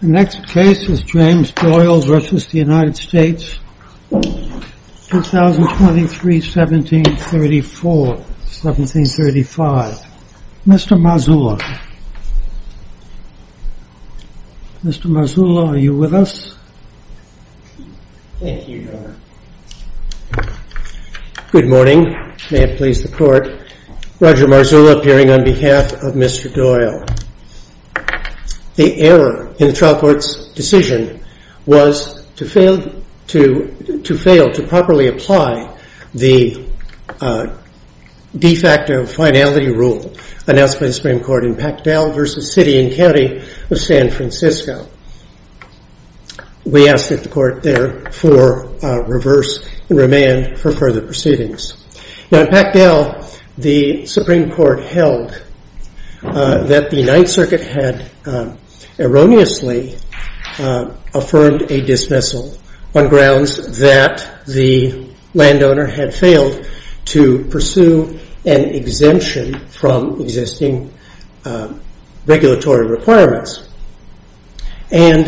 The next case is James Doyle v. United States, 2023, 1734, 1735. Mr. Marzullo. Mr. Marzullo, are you with us? Thank you, Your Honor. Good morning. May it please the Court. Roger Marzullo appearing on behalf of Mr. Doyle. The error in the trial court's decision was to fail to properly apply the de facto finality rule announced by the Supreme Court in Pactel v. City and County of San Francisco. We ask that the Court there for reverse and remand for further proceedings. In Pactel, the Supreme Court held that the Ninth Circuit had erroneously affirmed a dismissal on grounds that the landowner had failed to pursue an exemption from existing regulatory requirements. And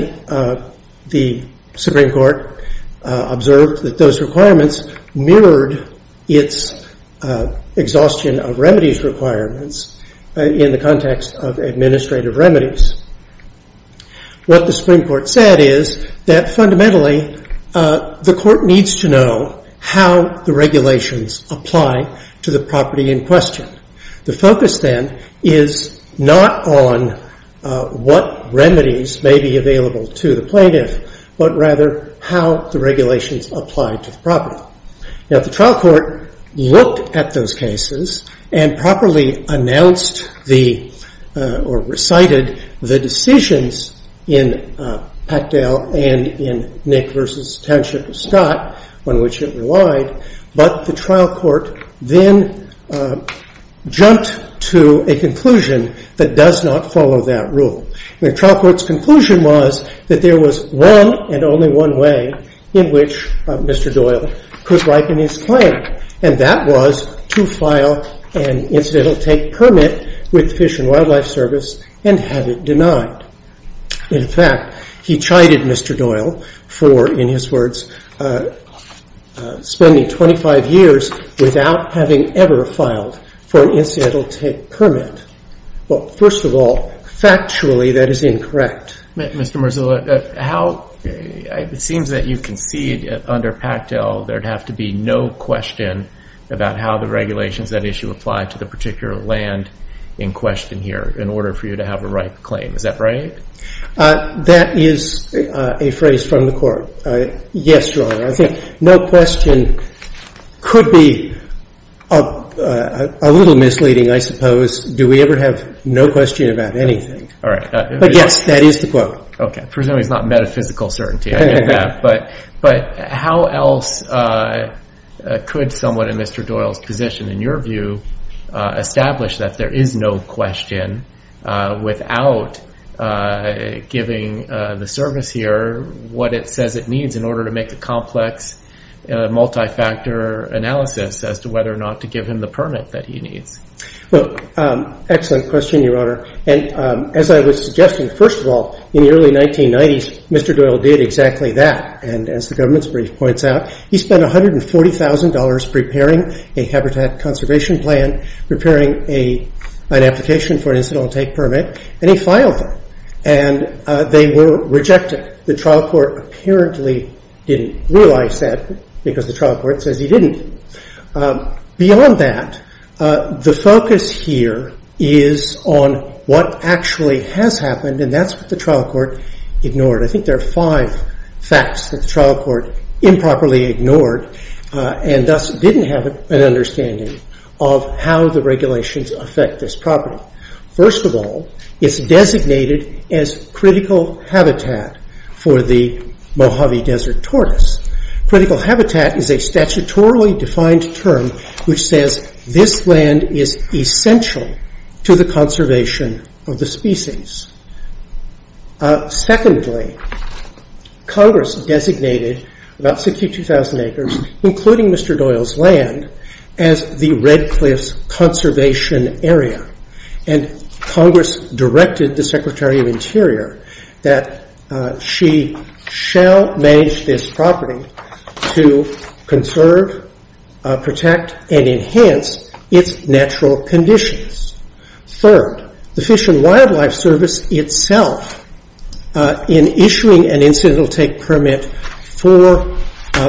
the Supreme Court observed that those requirements mirrored its exhaustion of remedies requirements in the context of administrative remedies. What the Supreme Court said is that fundamentally the Court needs to know how the regulations apply to the property in question. The focus then is not on what remedies may be available to the plaintiff, but rather how the regulations apply to the property. Now, the trial court looked at those cases and properly announced or recited the decisions in Pactel and in Nick v. Township of Scott, on which it relied. But the trial court then jumped to a conclusion that does not follow that rule. The trial court's conclusion was that there was one and only one way in which Mr. Doyle could ripen his claim. And that was to file an incidental take permit with Fish and Wildlife Service and have it denied. In fact, he chided Mr. Doyle for, in his words, spending 25 years without having ever filed for an incidental take permit. Well, first of all, factually, that is incorrect. Mr. Marzullo, how – it seems that you concede under Pactel there'd have to be no question about how the regulations of that issue apply to the particular land in question here in order for you to have a ripe claim. Is that right? That is a phrase from the Court. Yes, Your Honor. I think no question could be a little misleading, I suppose. Do we ever have no question about anything? All right. But yes, that is the quote. Okay. Presumably it's not metaphysical certainty. I get that. But how else could someone in Mr. Doyle's position, in your view, establish that there is no question without giving the service here what it says it needs in order to make a complex, multifactor analysis as to whether or not to give him the permit that he needs? Well, excellent question, Your Honor. As I was suggesting, first of all, in the early 1990s, Mr. Doyle did exactly that. And as the government's brief points out, he spent $140,000 preparing a habitat conservation plan, preparing an application for an incidental take permit, and he filed them. And they were rejected. The trial court apparently didn't realize that because the trial court says he didn't. Beyond that, the focus here is on what actually has happened, and that's what the trial court ignored. I think there are five facts that the trial court improperly ignored and thus didn't have an understanding of how the regulations affect this property. First of all, it's designated as critical habitat for the Mojave Desert tortoise. Critical habitat is a statutorily defined term which says this land is essential to the conservation of the species. Secondly, Congress designated about 62,000 acres, including Mr. Doyle's land, as the Red Cliffs Conservation Area. And Congress directed the Secretary of Interior that she shall manage this property to conserve, protect, and enhance its natural conditions. Third, the Fish and Wildlife Service itself, in issuing an incidental take permit for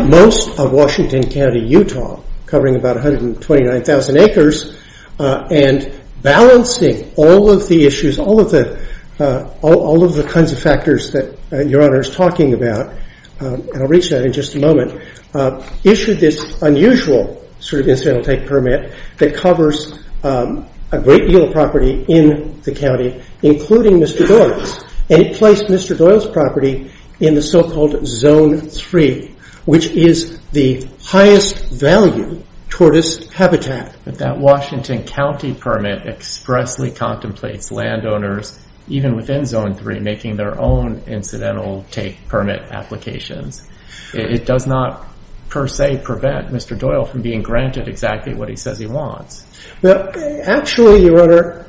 most of Washington County, Utah, covering about 129,000 acres, and balancing all of the issues, all of the kinds of factors that Your Honor is talking about, and I'll reach out in just a moment, issued this unusual incidental take permit that covers a great deal of property in the county, including Mr. Doyle's. And it placed Mr. Doyle's property in the so-called Zone 3, which is the highest value tortoise habitat. That Washington County permit expressly contemplates landowners, even within Zone 3, making their own incidental take permit applications. It does not, per se, prevent Mr. Doyle from being granted exactly what he says he wants. Actually, Your Honor,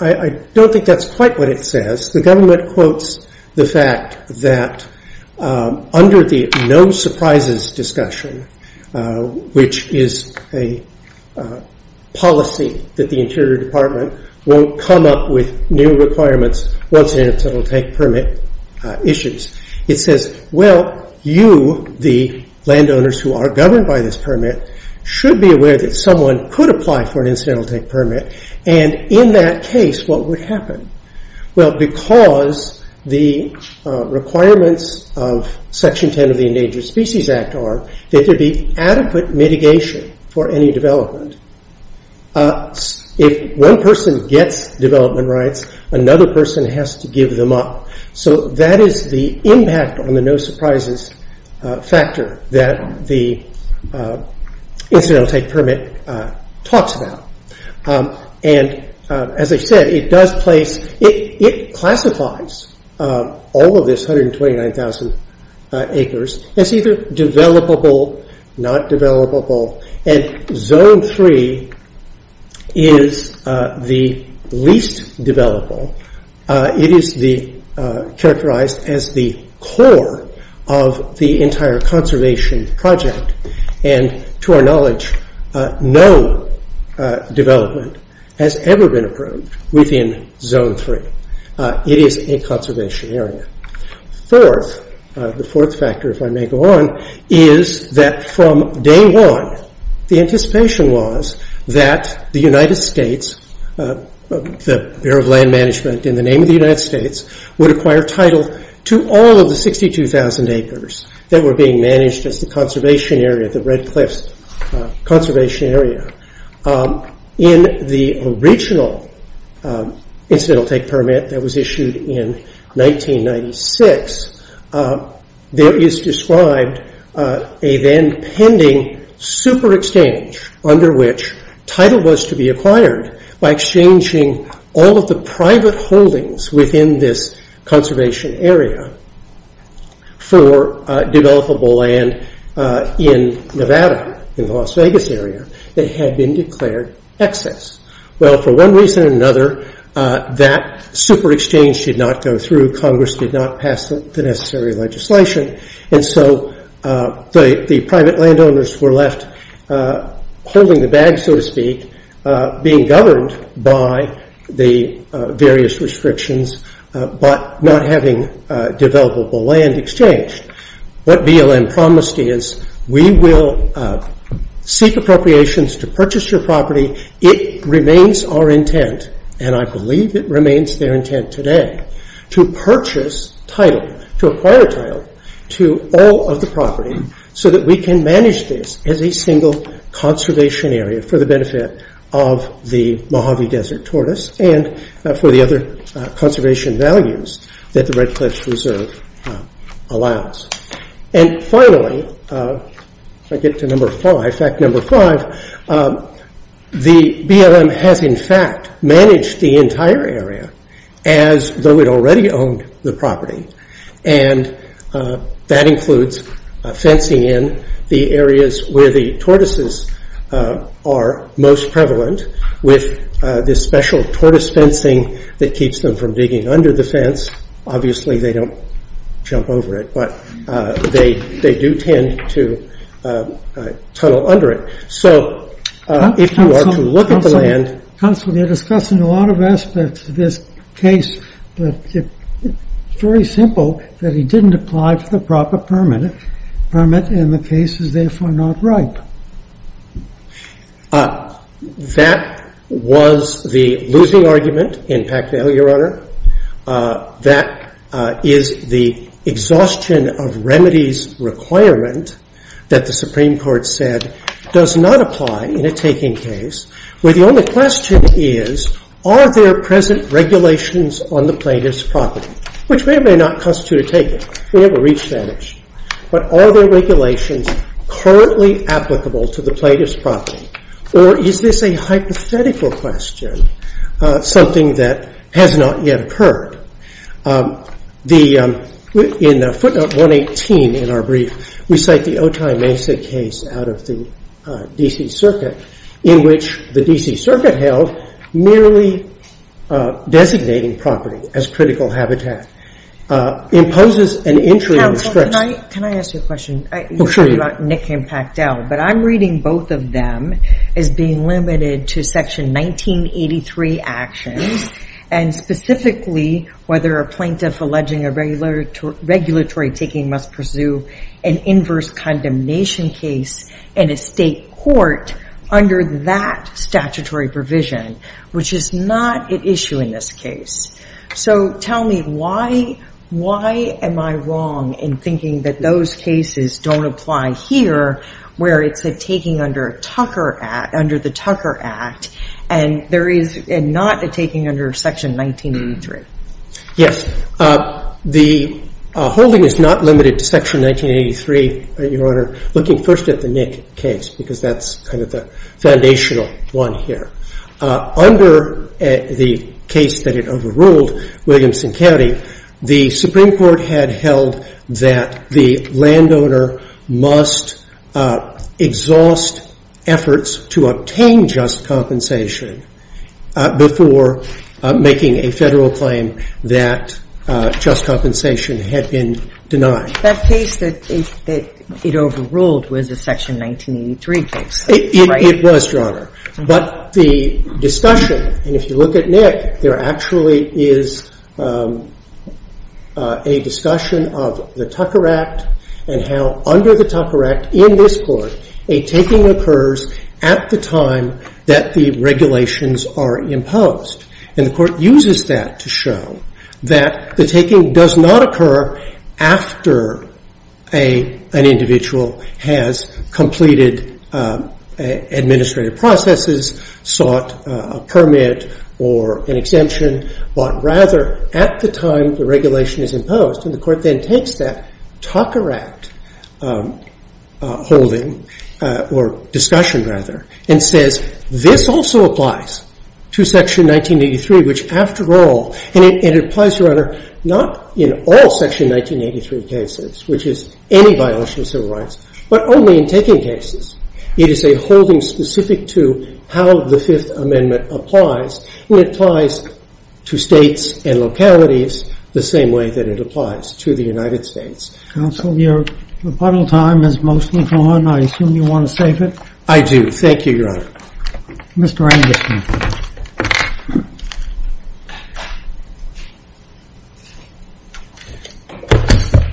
I don't think that's quite what it says. The government quotes the fact that under the no surprises discussion, which is a policy that the Interior Department won't come up with new requirements, once incidental take permit issues. It says, well, you, the landowners who are governed by this permit, should be aware that someone could apply for an incidental take permit, and in that case, what would happen? Well, because the requirements of Section 10 of the Endangered Species Act are that there be adequate mitigation for any development. If one person gets development rights, another person has to give them up. So that is the impact on the no surprises factor that the incidental take permit talks about. And as I said, it classifies all of this 129,000 acres as either developable, not developable. And Zone 3 is the least developable. It is characterized as the core of the entire conservation project. And to our knowledge, no development has ever been approved within Zone 3. It is a conservation area. Fourth, the fourth factor, if I may go on, is that from day one, the anticipation was that the United States, the Bureau of Land Management in the name of the United States, would acquire title to all of the 62,000 acres that were being managed as the conservation area, the Red Cliffs Conservation Area. In the original incidental take permit that was issued in 1996, there is described a then pending super exchange under which title was to be acquired by exchanging all of the private holdings within this conservation area for developable land in Nevada, in the Las Vegas area, that had been declared excess. Well, for one reason or another, that super exchange did not go through. Congress did not pass the necessary legislation. And so the private landowners were left holding the bag, so to speak, being governed by the various restrictions, but not having developable land exchanged. What BLM promised is we will seek appropriations to purchase your property. It remains our intent, and I believe it remains their intent today, to purchase title, to acquire title to all of the property, so that we can manage this as a single conservation area for the benefit of the Mojave Desert tortoise and for the other conservation values that the Red Cliffs Reserve allows. And finally, if I get to number five, fact number five, the BLM has in fact managed the entire area as though it already owned the property. And that includes fencing in the areas where the tortoises are most prevalent with this special tortoise fencing that keeps them from digging under the fence. Obviously, they don't jump over it, but they do tend to tunnel under it. So if you want to look at the land. Counsel, you're discussing a lot of aspects of this case, but it's very simple that he didn't apply for the proper permit, and the case is therefore not ripe. That was the losing argument in Packnell, Your Honor. That is the exhaustion of remedies requirement that the Supreme Court said does not apply in a taking case, where the only question is, are there present regulations on the plaintiff's property? Which may or may not constitute a taking. We haven't reached that issue. But are there regulations currently applicable to the plaintiff's property? Or is this a hypothetical question, something that has not yet occurred? In the footnote 118 in our brief, we cite the Otay Mesa case out of the D.C. Circuit, in which the D.C. Circuit held merely designating property as critical habitat. It imposes an entry restriction. Counsel, can I ask you a question? Oh, sure. You're talking about Nick and Packnell, but I'm reading both of them as being limited to Section 1983 actions, and specifically whether a plaintiff alleging a regulatory taking must pursue an inverse condemnation case in a state court under that statutory provision, which is not at issue in this case. So tell me, why am I wrong in thinking that those cases don't apply here, where it's a taking under the Tucker Act, and not a taking under Section 1983? Yes. The holding is not limited to Section 1983, Your Honor, looking first at the Nick case, because that's kind of the foundational one here. Under the case that it overruled, Williamson County, the Supreme Court had held that the landowner must exhaust efforts to obtain just compensation before making a Federal claim that just compensation had been denied. That case that it overruled was a Section 1983 case, right? It was, Your Honor. But the discussion, and if you look at Nick, there actually is a discussion of the Tucker Act and how under the Tucker Act in this Court, a taking occurs at the time that the regulations are imposed. And the Court uses that to show that the taking does not occur after an individual has completed administrative processes, sought a permit or an exemption, but rather at the time the regulation is imposed. And the Court then takes that Tucker Act holding, or discussion rather, and says this also applies to Section 1983, which after all, and it applies, Your Honor, not in all Section 1983 cases, which is any violation of civil rights, but only in taking cases. It is a holding specific to how the Fifth Amendment applies. It applies to States and localities the same way that it applies to the United States. Counsel, your rebuttal time is mostly gone. I assume you want to save it? I do. Thank you, Your Honor. Mr. Anderson.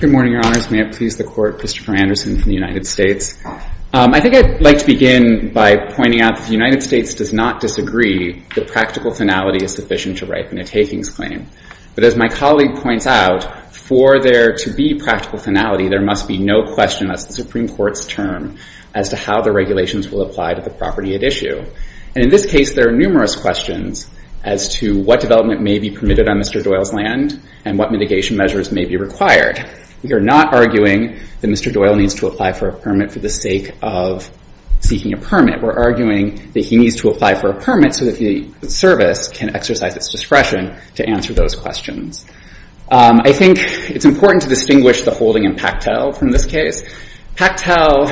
Good morning, Your Honors. May it please the Court. Christopher Anderson from the United States. I think I'd like to begin by pointing out that the United States does not disagree that practical finality is sufficient to ripen a takings claim. But as my colleague points out, for there to be practical finality, there must be no question as to the Supreme Court's term as to how the regulations will apply to the property at issue. And in this case, there are numerous questions as to what development may be permitted on Mr. Doyle's land and what mitigation measures may be required. We are not arguing that Mr. Doyle needs to apply for a permit for the sake of seeking a permit. We're arguing that he needs to apply for a permit so that the service can exercise its discretion to answer those questions. I think it's important to distinguish the holding in Pactel from this case. Pactel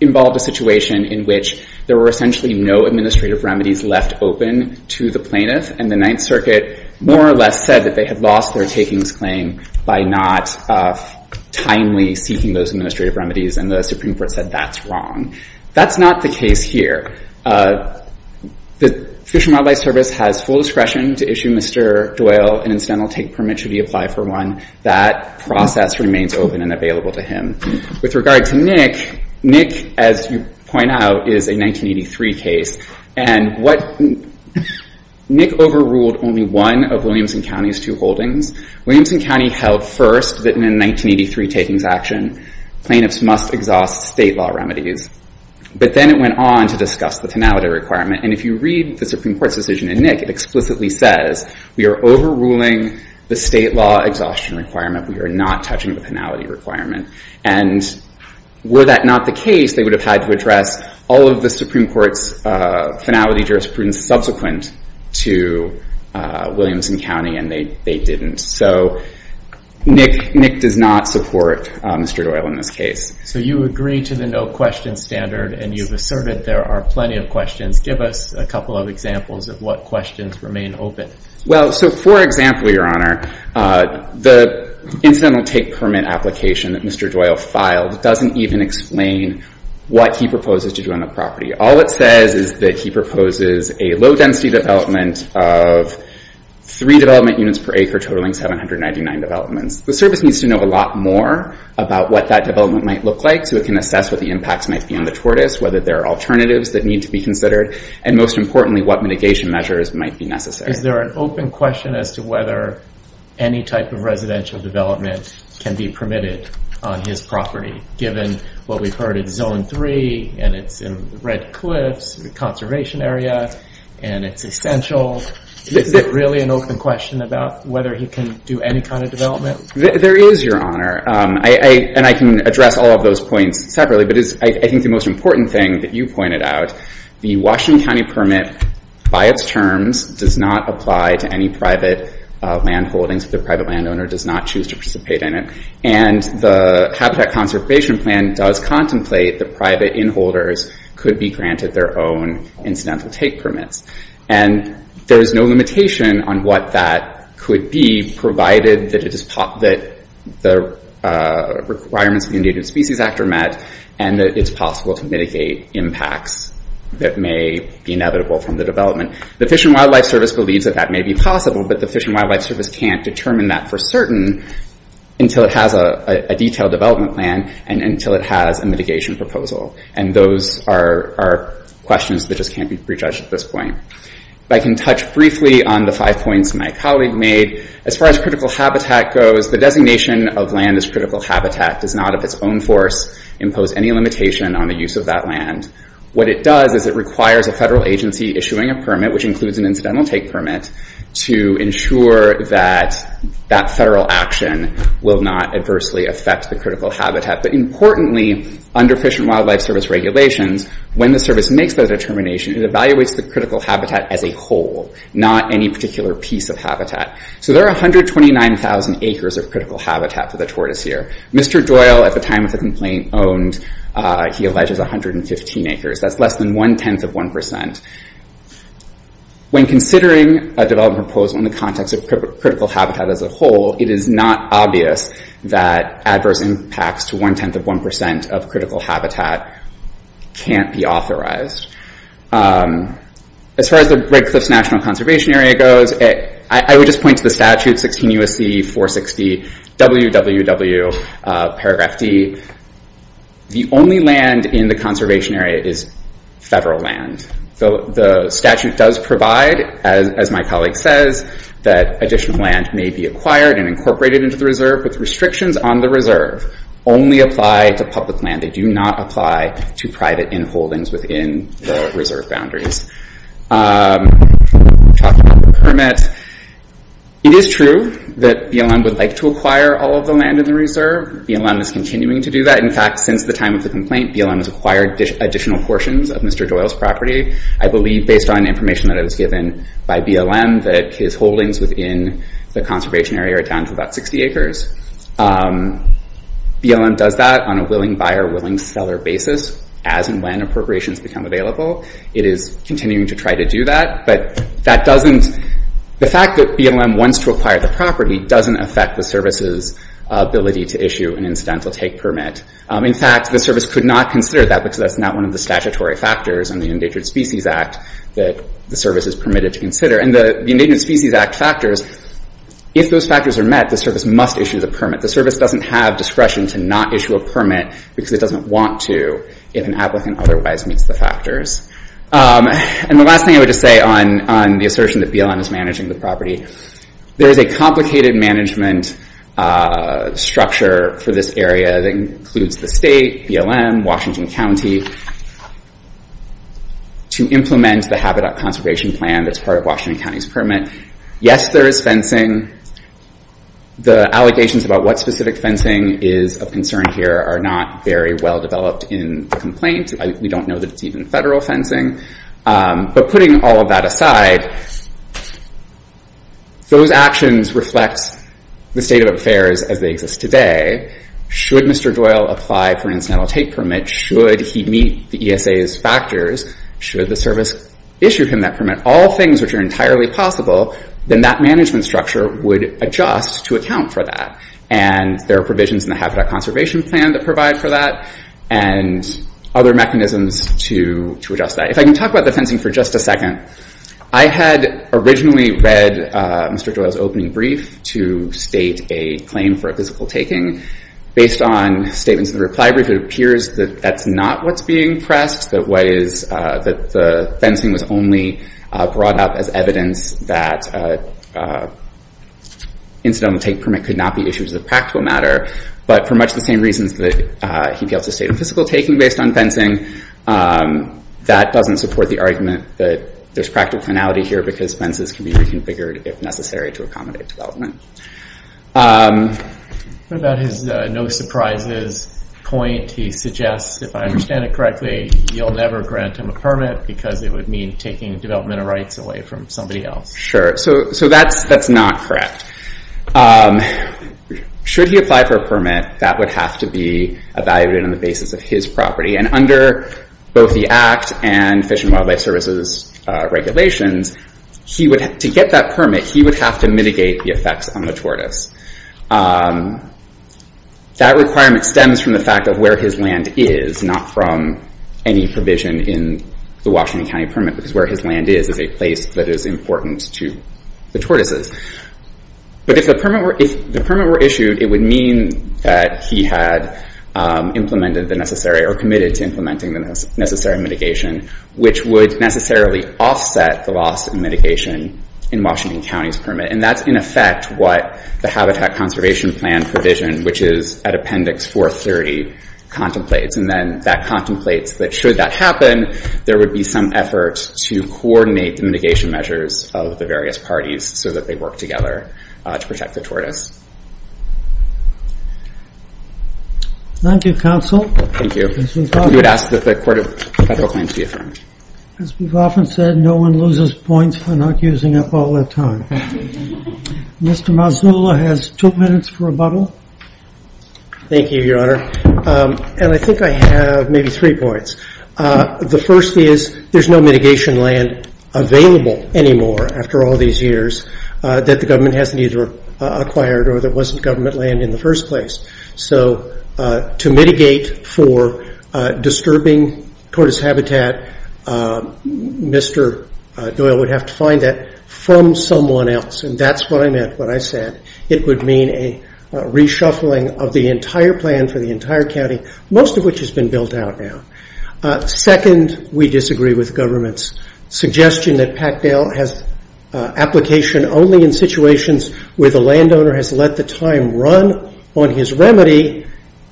involved a situation in which there were essentially no administrative remedies left open to the plaintiff. And the Ninth Circuit more or less said that they had lost their takings claim by not timely seeking those administrative remedies, and the Supreme Court said that's wrong. That's not the case here. The Fish and Wildlife Service has full discretion to issue Mr. Doyle an incidental take permit should he apply for one. That process remains open and available to him. With regard to Nick, Nick, as you point out, is a 1983 case. And what Nick overruled only one of Williamson County's two holdings. Williamson County held first that in a 1983 takings action, plaintiffs must exhaust state law remedies. But then it went on to discuss the finality requirement. And if you read the Supreme Court's decision in Nick, it explicitly says we are overruling the state law exhaustion requirement. We are not touching the finality requirement. And were that not the case, they would have had to address all of the Supreme Court's finality jurisprudence subsequent to Williamson County, and they didn't. So Nick does not support Mr. Doyle in this case. So you agree to the no questions standard, and you've asserted there are plenty of questions. Give us a couple of examples of what questions remain open. Well, so for example, Your Honor, the incidental take permit application that Mr. Doyle filed doesn't even explain what he proposes to do on the property. All it says is that he proposes a low-density development of three development units per acre, totaling 799 developments. The service needs to know a lot more about what that development might look like so it can assess what the impacts might be on the tortoise, whether there are alternatives that need to be considered, and most importantly, what mitigation measures might be necessary. Is there an open question as to whether any type of residential development can be permitted on his property, given what we've heard is Zone 3, and it's in Red Cliffs, a conservation area, and it's essential? Is it really an open question about whether he can do any kind of development? There is, Your Honor, and I can address all of those points separately, but I think the most important thing that you pointed out, the Washington County permit by its terms does not apply to any private landholdings if the private landowner does not choose to participate in it, and the Habitat Conservation Plan does contemplate that private in-holders could be granted their own incidental take permits. And there is no limitation on what that could be, provided that the requirements of the Endangered Species Act are met and that it's possible to mitigate impacts that may be inevitable from the development. The Fish and Wildlife Service believes that that may be possible, but the Fish and Wildlife Service can't determine that for certain until it has a detailed development plan and until it has a mitigation proposal. And those are questions that just can't be prejudged at this point. If I can touch briefly on the five points my colleague made, as far as critical habitat goes, the designation of land as critical habitat does not of its own force impose any limitation on the use of that land. What it does is it requires a federal agency issuing a permit, which includes an incidental take permit, to ensure that that federal action will not adversely affect the critical habitat. But importantly, under Fish and Wildlife Service regulations, when the service makes that determination, it evaluates the critical habitat as a whole, not any particular piece of habitat. So there are 129,000 acres of critical habitat for the tortoise here. Mr. Doyle, at the time of the complaint, owned, he alleges, 115 acres. That's less than one-tenth of one percent. When considering a development proposal in the context of critical habitat as a whole, it is not obvious that adverse impacts to one-tenth of one percent of critical habitat can't be authorized. As far as the Red Cliffs National Conservation Area goes, I would just point to the statute, 16 U.S.C. 460 WWW, paragraph D. The only land in the conservation area is federal land. The statute does provide, as my colleague says, that additional land may be acquired and incorporated into the reserve, but the restrictions on the reserve only apply to public land. They do not apply to private in-holdings within the reserve boundaries. Talking about the permit, it is true that BLM would like to acquire all of the land in the reserve. BLM is continuing to do that. In fact, since the time of the complaint, BLM has acquired additional portions of Mr. Doyle's property. I believe, based on information that was given by BLM, that his holdings within the conservation area are down to about 60 acres. BLM does that on a willing buyer, willing seller basis, as and when appropriations become available. It is continuing to try to do that. But the fact that BLM wants to acquire the property doesn't affect the service's ability to issue an incidental take permit. In fact, the service could not consider that because that's not one of the statutory factors in the Endangered Species Act that the service is permitted to consider. And the Endangered Species Act factors, if those factors are met, the service must issue the permit. The service doesn't have discretion to not issue a permit because it doesn't want to if an applicant otherwise meets the factors. And the last thing I would just say on the assertion that BLM is managing the property, there is a complicated management structure for this area that includes the state, BLM, Washington County, to implement the habitat conservation plan that's part of Washington County's permit. Yes, there is fencing. The allegations about what specific fencing is of concern here are not very well developed in the complaint. We don't know that it's even federal fencing. But putting all of that aside, those actions reflect the state of affairs as they exist today. Should Mr. Doyle apply for an incidental take permit, should he meet the ESA's factors, should the service issue him that permit, all things which are entirely possible, then that management structure would adjust to account for that. And there are provisions in the habitat conservation plan that provide for that and other mechanisms to adjust that. If I can talk about the fencing for just a second. I had originally read Mr. Doyle's opening brief to state a claim for a physical taking. Based on statements in the reply brief, it appears that that's not what's being pressed, that the fencing was only brought up as evidence that an incidental take permit could not be issued as a practical matter. But for much the same reasons that he failed to state a physical taking based on fencing, that doesn't support the argument that there's practical finality here because fences can be reconfigured if necessary to accommodate development. What about his no surprises point? He suggests, if I understand it correctly, you'll never grant him a permit because it would mean taking developmental rights away from somebody else. Sure. So that's not correct. Should he apply for a permit, that would have to be evaluated on the basis of his property. And under both the Act and Fish and Wildlife Services regulations, to get that permit, he would have to mitigate the effects on the tortoise. That requirement stems from the fact of where his land is, not from any provision in the Washington County permit because where his land is is a place that is important to the tortoises. But if the permit were issued, it would mean that he had implemented the necessary or committed to implementing the necessary mitigation, which would necessarily offset the loss of mitigation in Washington County's permit. And that's in effect what the Habitat Conservation Plan provision, which is at Appendix 430, contemplates. And then that contemplates that should that happen, there would be some effort to coordinate the mitigation measures of the various parties so that they work together to protect the tortoise. Thank you, counsel. Thank you. We would ask that the Court of Federal Claims be affirmed. As we've often said, no one loses points for not using up all their time. Mr. Mazzullo has two minutes for rebuttal. Thank you, Your Honor. And I think I have maybe three points. The first is there's no mitigation land available anymore after all these years that the government hasn't either acquired or that wasn't government land in the first place. So to mitigate for disturbing tortoise habitat, Mr. Doyle would have to find that from someone else. And that's what I meant when I said it would mean a reshuffling of the entire plan for the entire county, most of which has been built out now. Second, we disagree with government's suggestion that Packdale has application only in situations where the landowner has let the time run on his remedy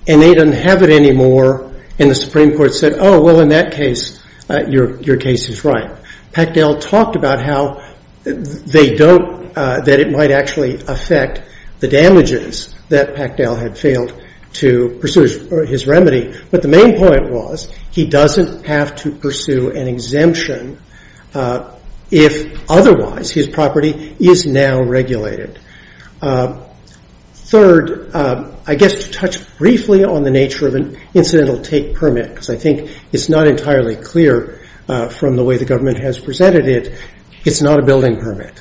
and they don't have it anymore. And the Supreme Court said, oh, well, in that case, your case is right. Packdale talked about how they don't, that it might actually affect the damages that Packdale had failed to pursue his remedy. But the main point was he doesn't have to pursue an exemption if otherwise his property is now regulated. Third, I guess to touch briefly on the nature of an incidental take permit, because I think it's not entirely clear from the way the government has presented it, it's not a building permit.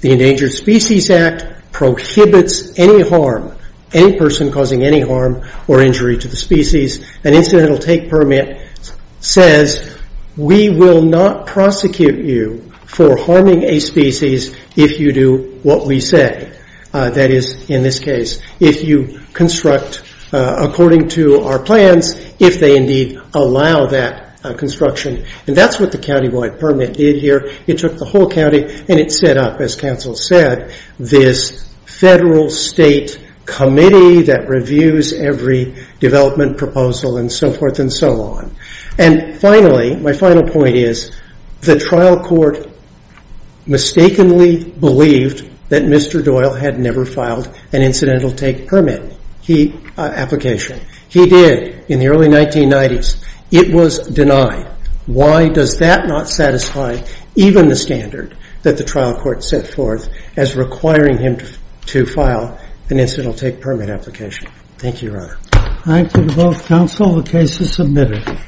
The Endangered Species Act prohibits any harm, any person causing any harm or injury to the species. An incidental take permit says we will not prosecute you for harming a species if you do what we say. That is, in this case, if you construct according to our plans, if they indeed allow that construction. And that's what the countywide permit did here. It took the whole county and it set up, as counsel said, this federal state committee that reviews every development proposal and so forth and so on. And finally, my final point is the trial court mistakenly believed that Mr. Doyle had never filed an incidental take permit application. He did in the early 1990s. It was denied. Why does that not satisfy even the standard that the trial court set forth as requiring him to file an incidental take permit application? Thank you, Your Honor. Thank you to both counsel. The case is submitted.